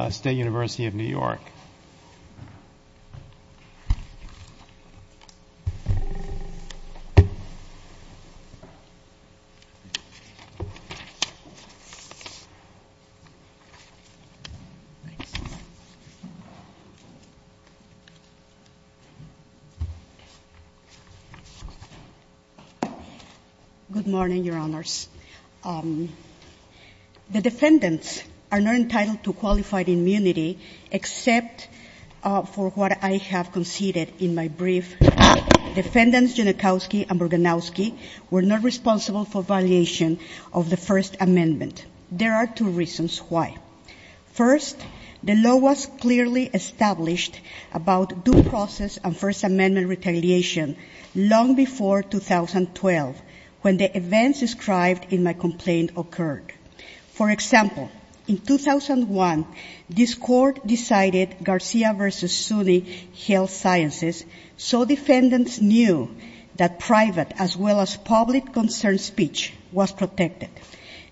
University of New York. Good morning, Your Honors. The defendants are not entitled to qualified immunity except for what I have conceded in my brief. Defendants Genachowski and Burganowski were not responsible for violation of the First Amendment. There are two reasons why. First, the law was clearly established about due process and First Amendment retaliation long before 2012, when the events described in my complaint occurred. For example, in 2001, this Court decided Garcia v. SUNY Health Sciences so defendants knew that private as well as public concern speech was protected.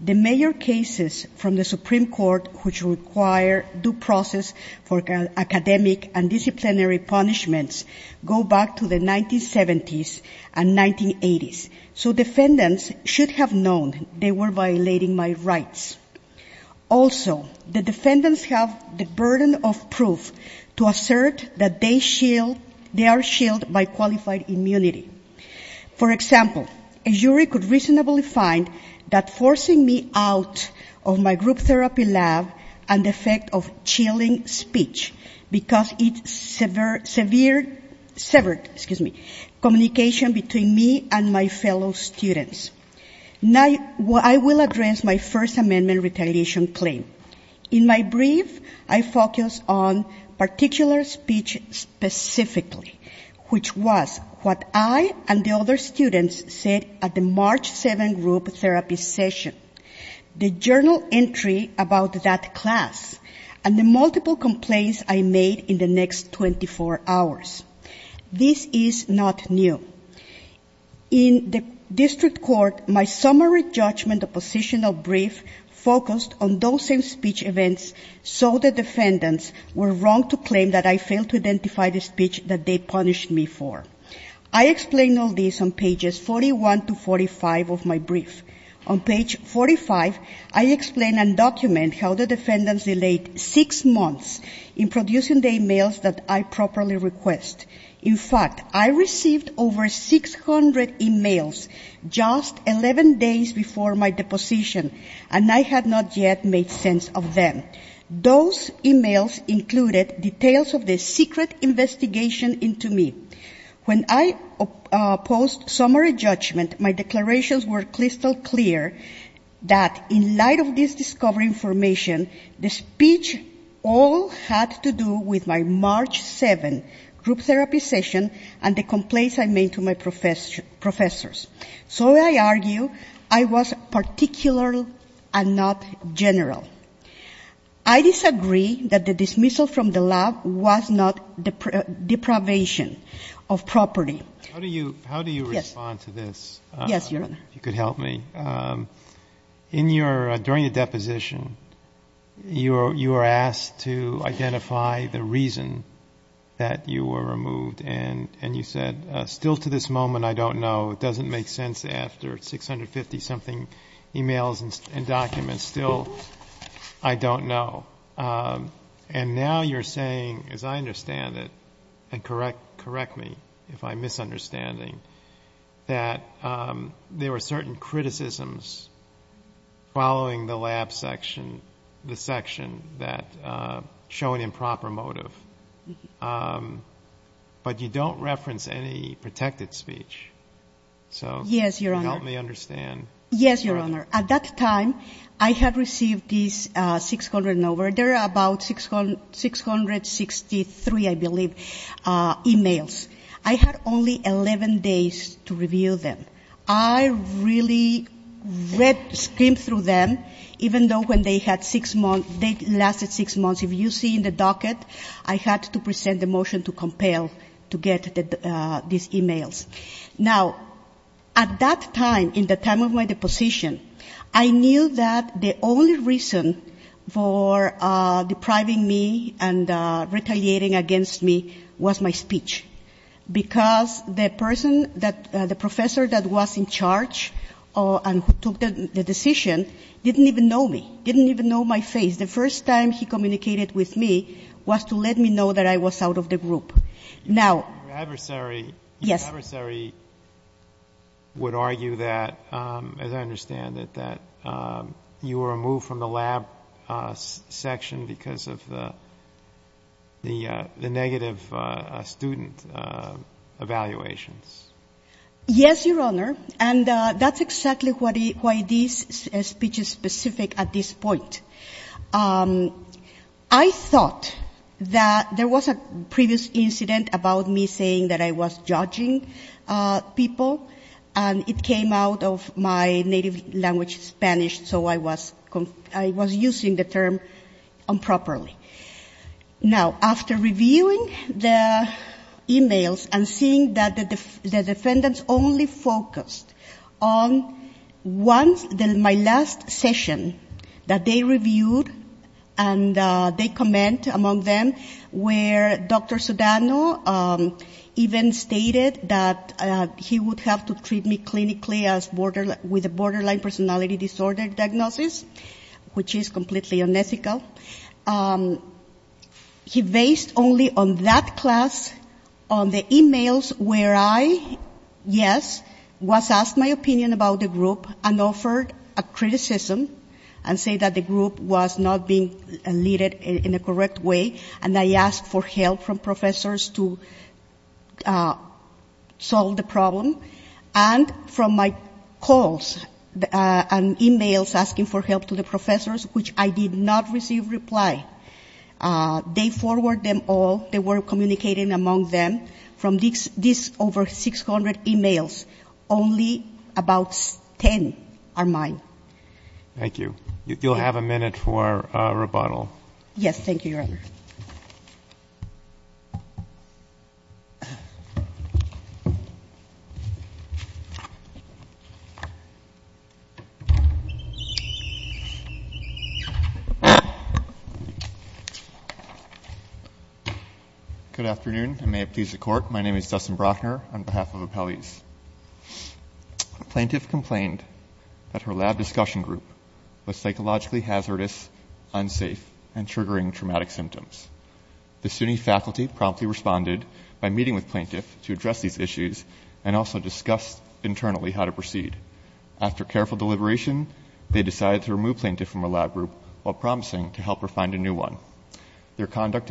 The major cases from the Supreme Court which require due process for academic and disciplinary punishments go back to the 1970s and 1980s. So defendants should have known they were violating my rights. Also, the defendants have the burden of proof to assert that they are shielded by qualified immunity. For example, a jury could reasonably find that forcing me out of my group therapy lab and the effect of chilling speech because it severed communication between me and my fellow students. I will address my First Amendment retaliation claim. In my brief, I focus on particular speech specifically, which was what I and the other students said at the March 7th group therapy session. The journal entry about that class and the multiple complaints I made in the next 24 hours. This is not new. In the district court, my summary judgment of position of brief focused on those same speech events so the defendants were wrong to claim that I failed to identify the speech that they punished me for. I explain all this on pages 41 to 45 of my brief. On page 45, I explain and document how the defendants delayed six months in producing the e-mails that I properly request. In fact, I received over 600 e-mails just 11 days before my deposition and I had not yet made sense of them. Those e-mails included details of the secret investigation into me. When I posed summary judgment, my declarations were crystal clear that in light of this discovery information, the speech all had to do with my March 7th group therapy session and the complaints I made to my professors. So I argue I was particular and not general. I disagree that the dismissal from the lab was not deprivation of property. How do you respond to this? Yes, Your Honor. If you could help me. During the deposition, you were asked to identify the reason that you were removed and you said, still to this moment, I don't know. It doesn't make sense after 650 something e-mails and documents. Still, I don't know. And now you're saying, as I understand it, and correct me if I'm misunderstanding, that there were certain criticisms following the lab section, the section that show an improper motive, but you don't reference any protected speech. So help me understand. Yes, Your Honor. At that time, I had received these 600 and over, there are about 663, I believe, e-mails. I had only 11 days to review them. I really read, scrimped through them, even though when they had six months, they lasted six months. If you see in the docket, I had to present a motion to compel to get these e-mails. Now, at that time, in the time of my deposition, I knew that the only reason for depriving me and retaliating against me was my speech, because the person that, the professor that was in charge and who took the decision didn't even know me, didn't even know my face. The first time he communicated with me was to let me know that I was out of the group. Now, Your adversary would argue that, as I understand it, that you were removed from the lab section because of the negative student evaluations. Yes, Your Honor, and that's exactly why this speech is specific at this point. I thought that there was a previous incident about me saying that I was judging people, and it came out of my native language, Spanish, so I was using the term improperly. Now, after reviewing the e-mails and seeing that the defendants only focused on my last session that they reviewed and they comment among them, where Dr. Sudano even stated that he would have to treat me clinically as borderline, with a borderline personality disorder diagnosis, which is completely unethical, he based only on that class on the e-mails where I, yes, was asked my opinion about the group and offered a criticism and say that the group was not being leaded in a correct way, and I asked for help from professors to solve the problem. And from my calls and e-mails asking for help to the professors, which I did not receive reply, they forwarded them all. And from what they were communicating among them, from these over 600 e-mails, only about 10 are mine. Thank you. Good afternoon, and may it please the Court, my name is Dustin Brockner on behalf of Appellees. Plaintiff complained that her lab discussion group was psychologically hazardous, unsafe, and triggering traumatic symptoms. The SUNY faculty promptly responded by meeting with plaintiff to address these issues and also discussed internally how to proceed. After careful deliberation, they decided to remove plaintiff from her lab group while promising to help her find a new one. The plaintiff's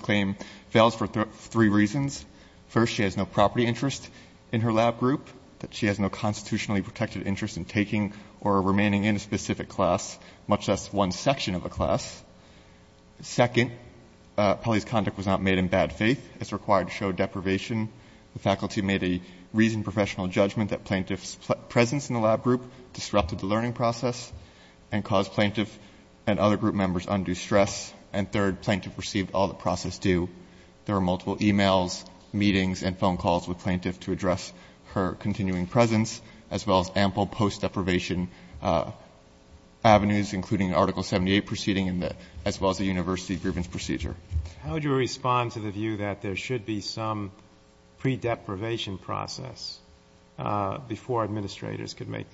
claim fails for three reasons. First, she has no property interest in her lab group, that she has no constitutionally protected interest in taking or remaining in a specific class, much less one section of a class. Second, Pelley's conduct was not made in bad faith, as required to show deprivation. The faculty made a reasoned professional judgment that plaintiff's presence in the lab group disrupted the learning process and caused plaintiff and other group members undue stress. And third, plaintiff received all the process due. There were multiple e-mails, meetings, and phone calls with plaintiff to address her continuing presence, as well as ample post-deprivation avenues, including Article 78 proceeding, as well as the university grievance procedure. How would you respond to the view that there should be some pre-deprivation process before administrators could make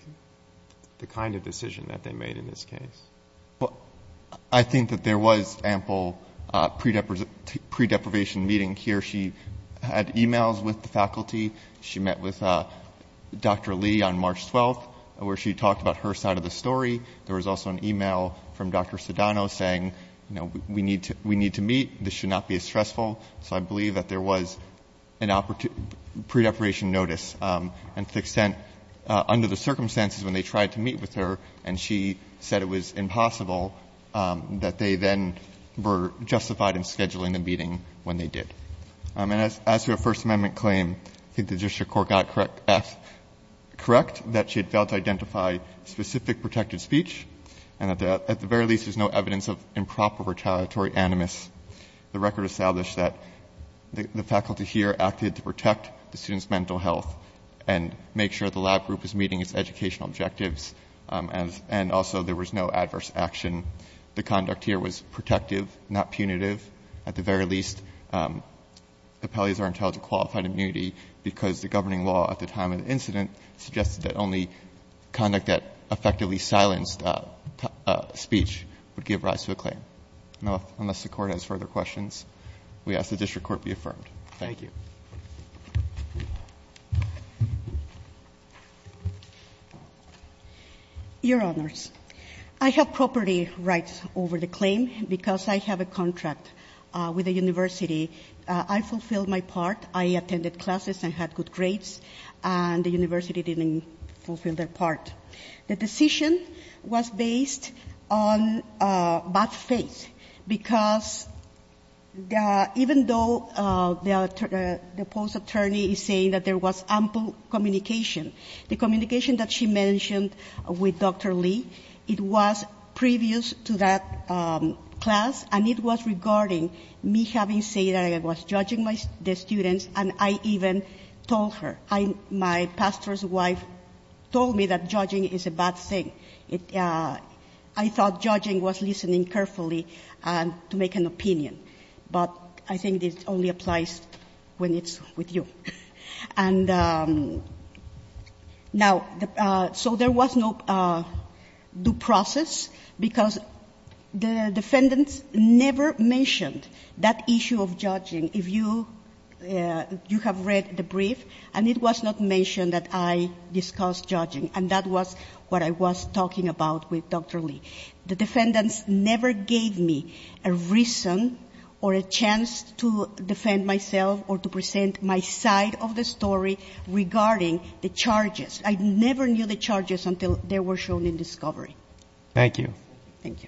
the kind of decision that they made in this case? Well, I think that there was ample pre-deprivation meeting. Here, she had e-mails with the faculty. She met with Dr. Lee on March 12th, where she talked about her side of the story. There was also an e-mail from Dr. Sedano saying, you know, we need to meet. This should not be as stressful. So I believe that there was a pre-deprivation notice. And to the extent, under the circumstances, when they tried to meet with her, and she said it was impossible, that they then were justified in scheduling the meeting when they did. And as to her First Amendment claim, I think the district court got correct that she had failed to identify specific protected speech. And at the very least, there's no evidence of improper retaliatory animus. The record established that the faculty here acted to protect the student's mental health and make sure the lab group was meeting its educational objectives. And also, there was no adverse action. The conduct here was protective, not punitive. At the very least, appellees are entitled to qualified immunity because the governing law at the time of the incident suggested that only conduct that effectively silenced speech would give rise to a claim. Now, unless the Court has further questions, we ask the district court be affirmed. Thank you. Your Honors, I have property rights over the claim because I have a contract with the university. I fulfilled my part. I attended classes and had good grades, and the university didn't fulfill their part. The decision was based on bad faith, because even though the post attorney is saying that there was ample communication, the communication that she mentioned with Dr. Lee, it was previous to that class, and it was regarding me having said that I was judging the students, and I even told her. My pastor's wife told me that judging is a bad thing. I thought judging was listening carefully to make an opinion, but I think this only applies when it's with you. Now, so there was no due process, because the defendants never mentioned that issue of judging. If you have read the brief, and it was not mentioned that I discussed judging, and that was what I was talking about with Dr. Lee. The defendants never gave me a reason or a chance to defend myself or to present my side of the story regarding the charges. I never knew the charges until they were shown in discovery. Thank you. Thank you.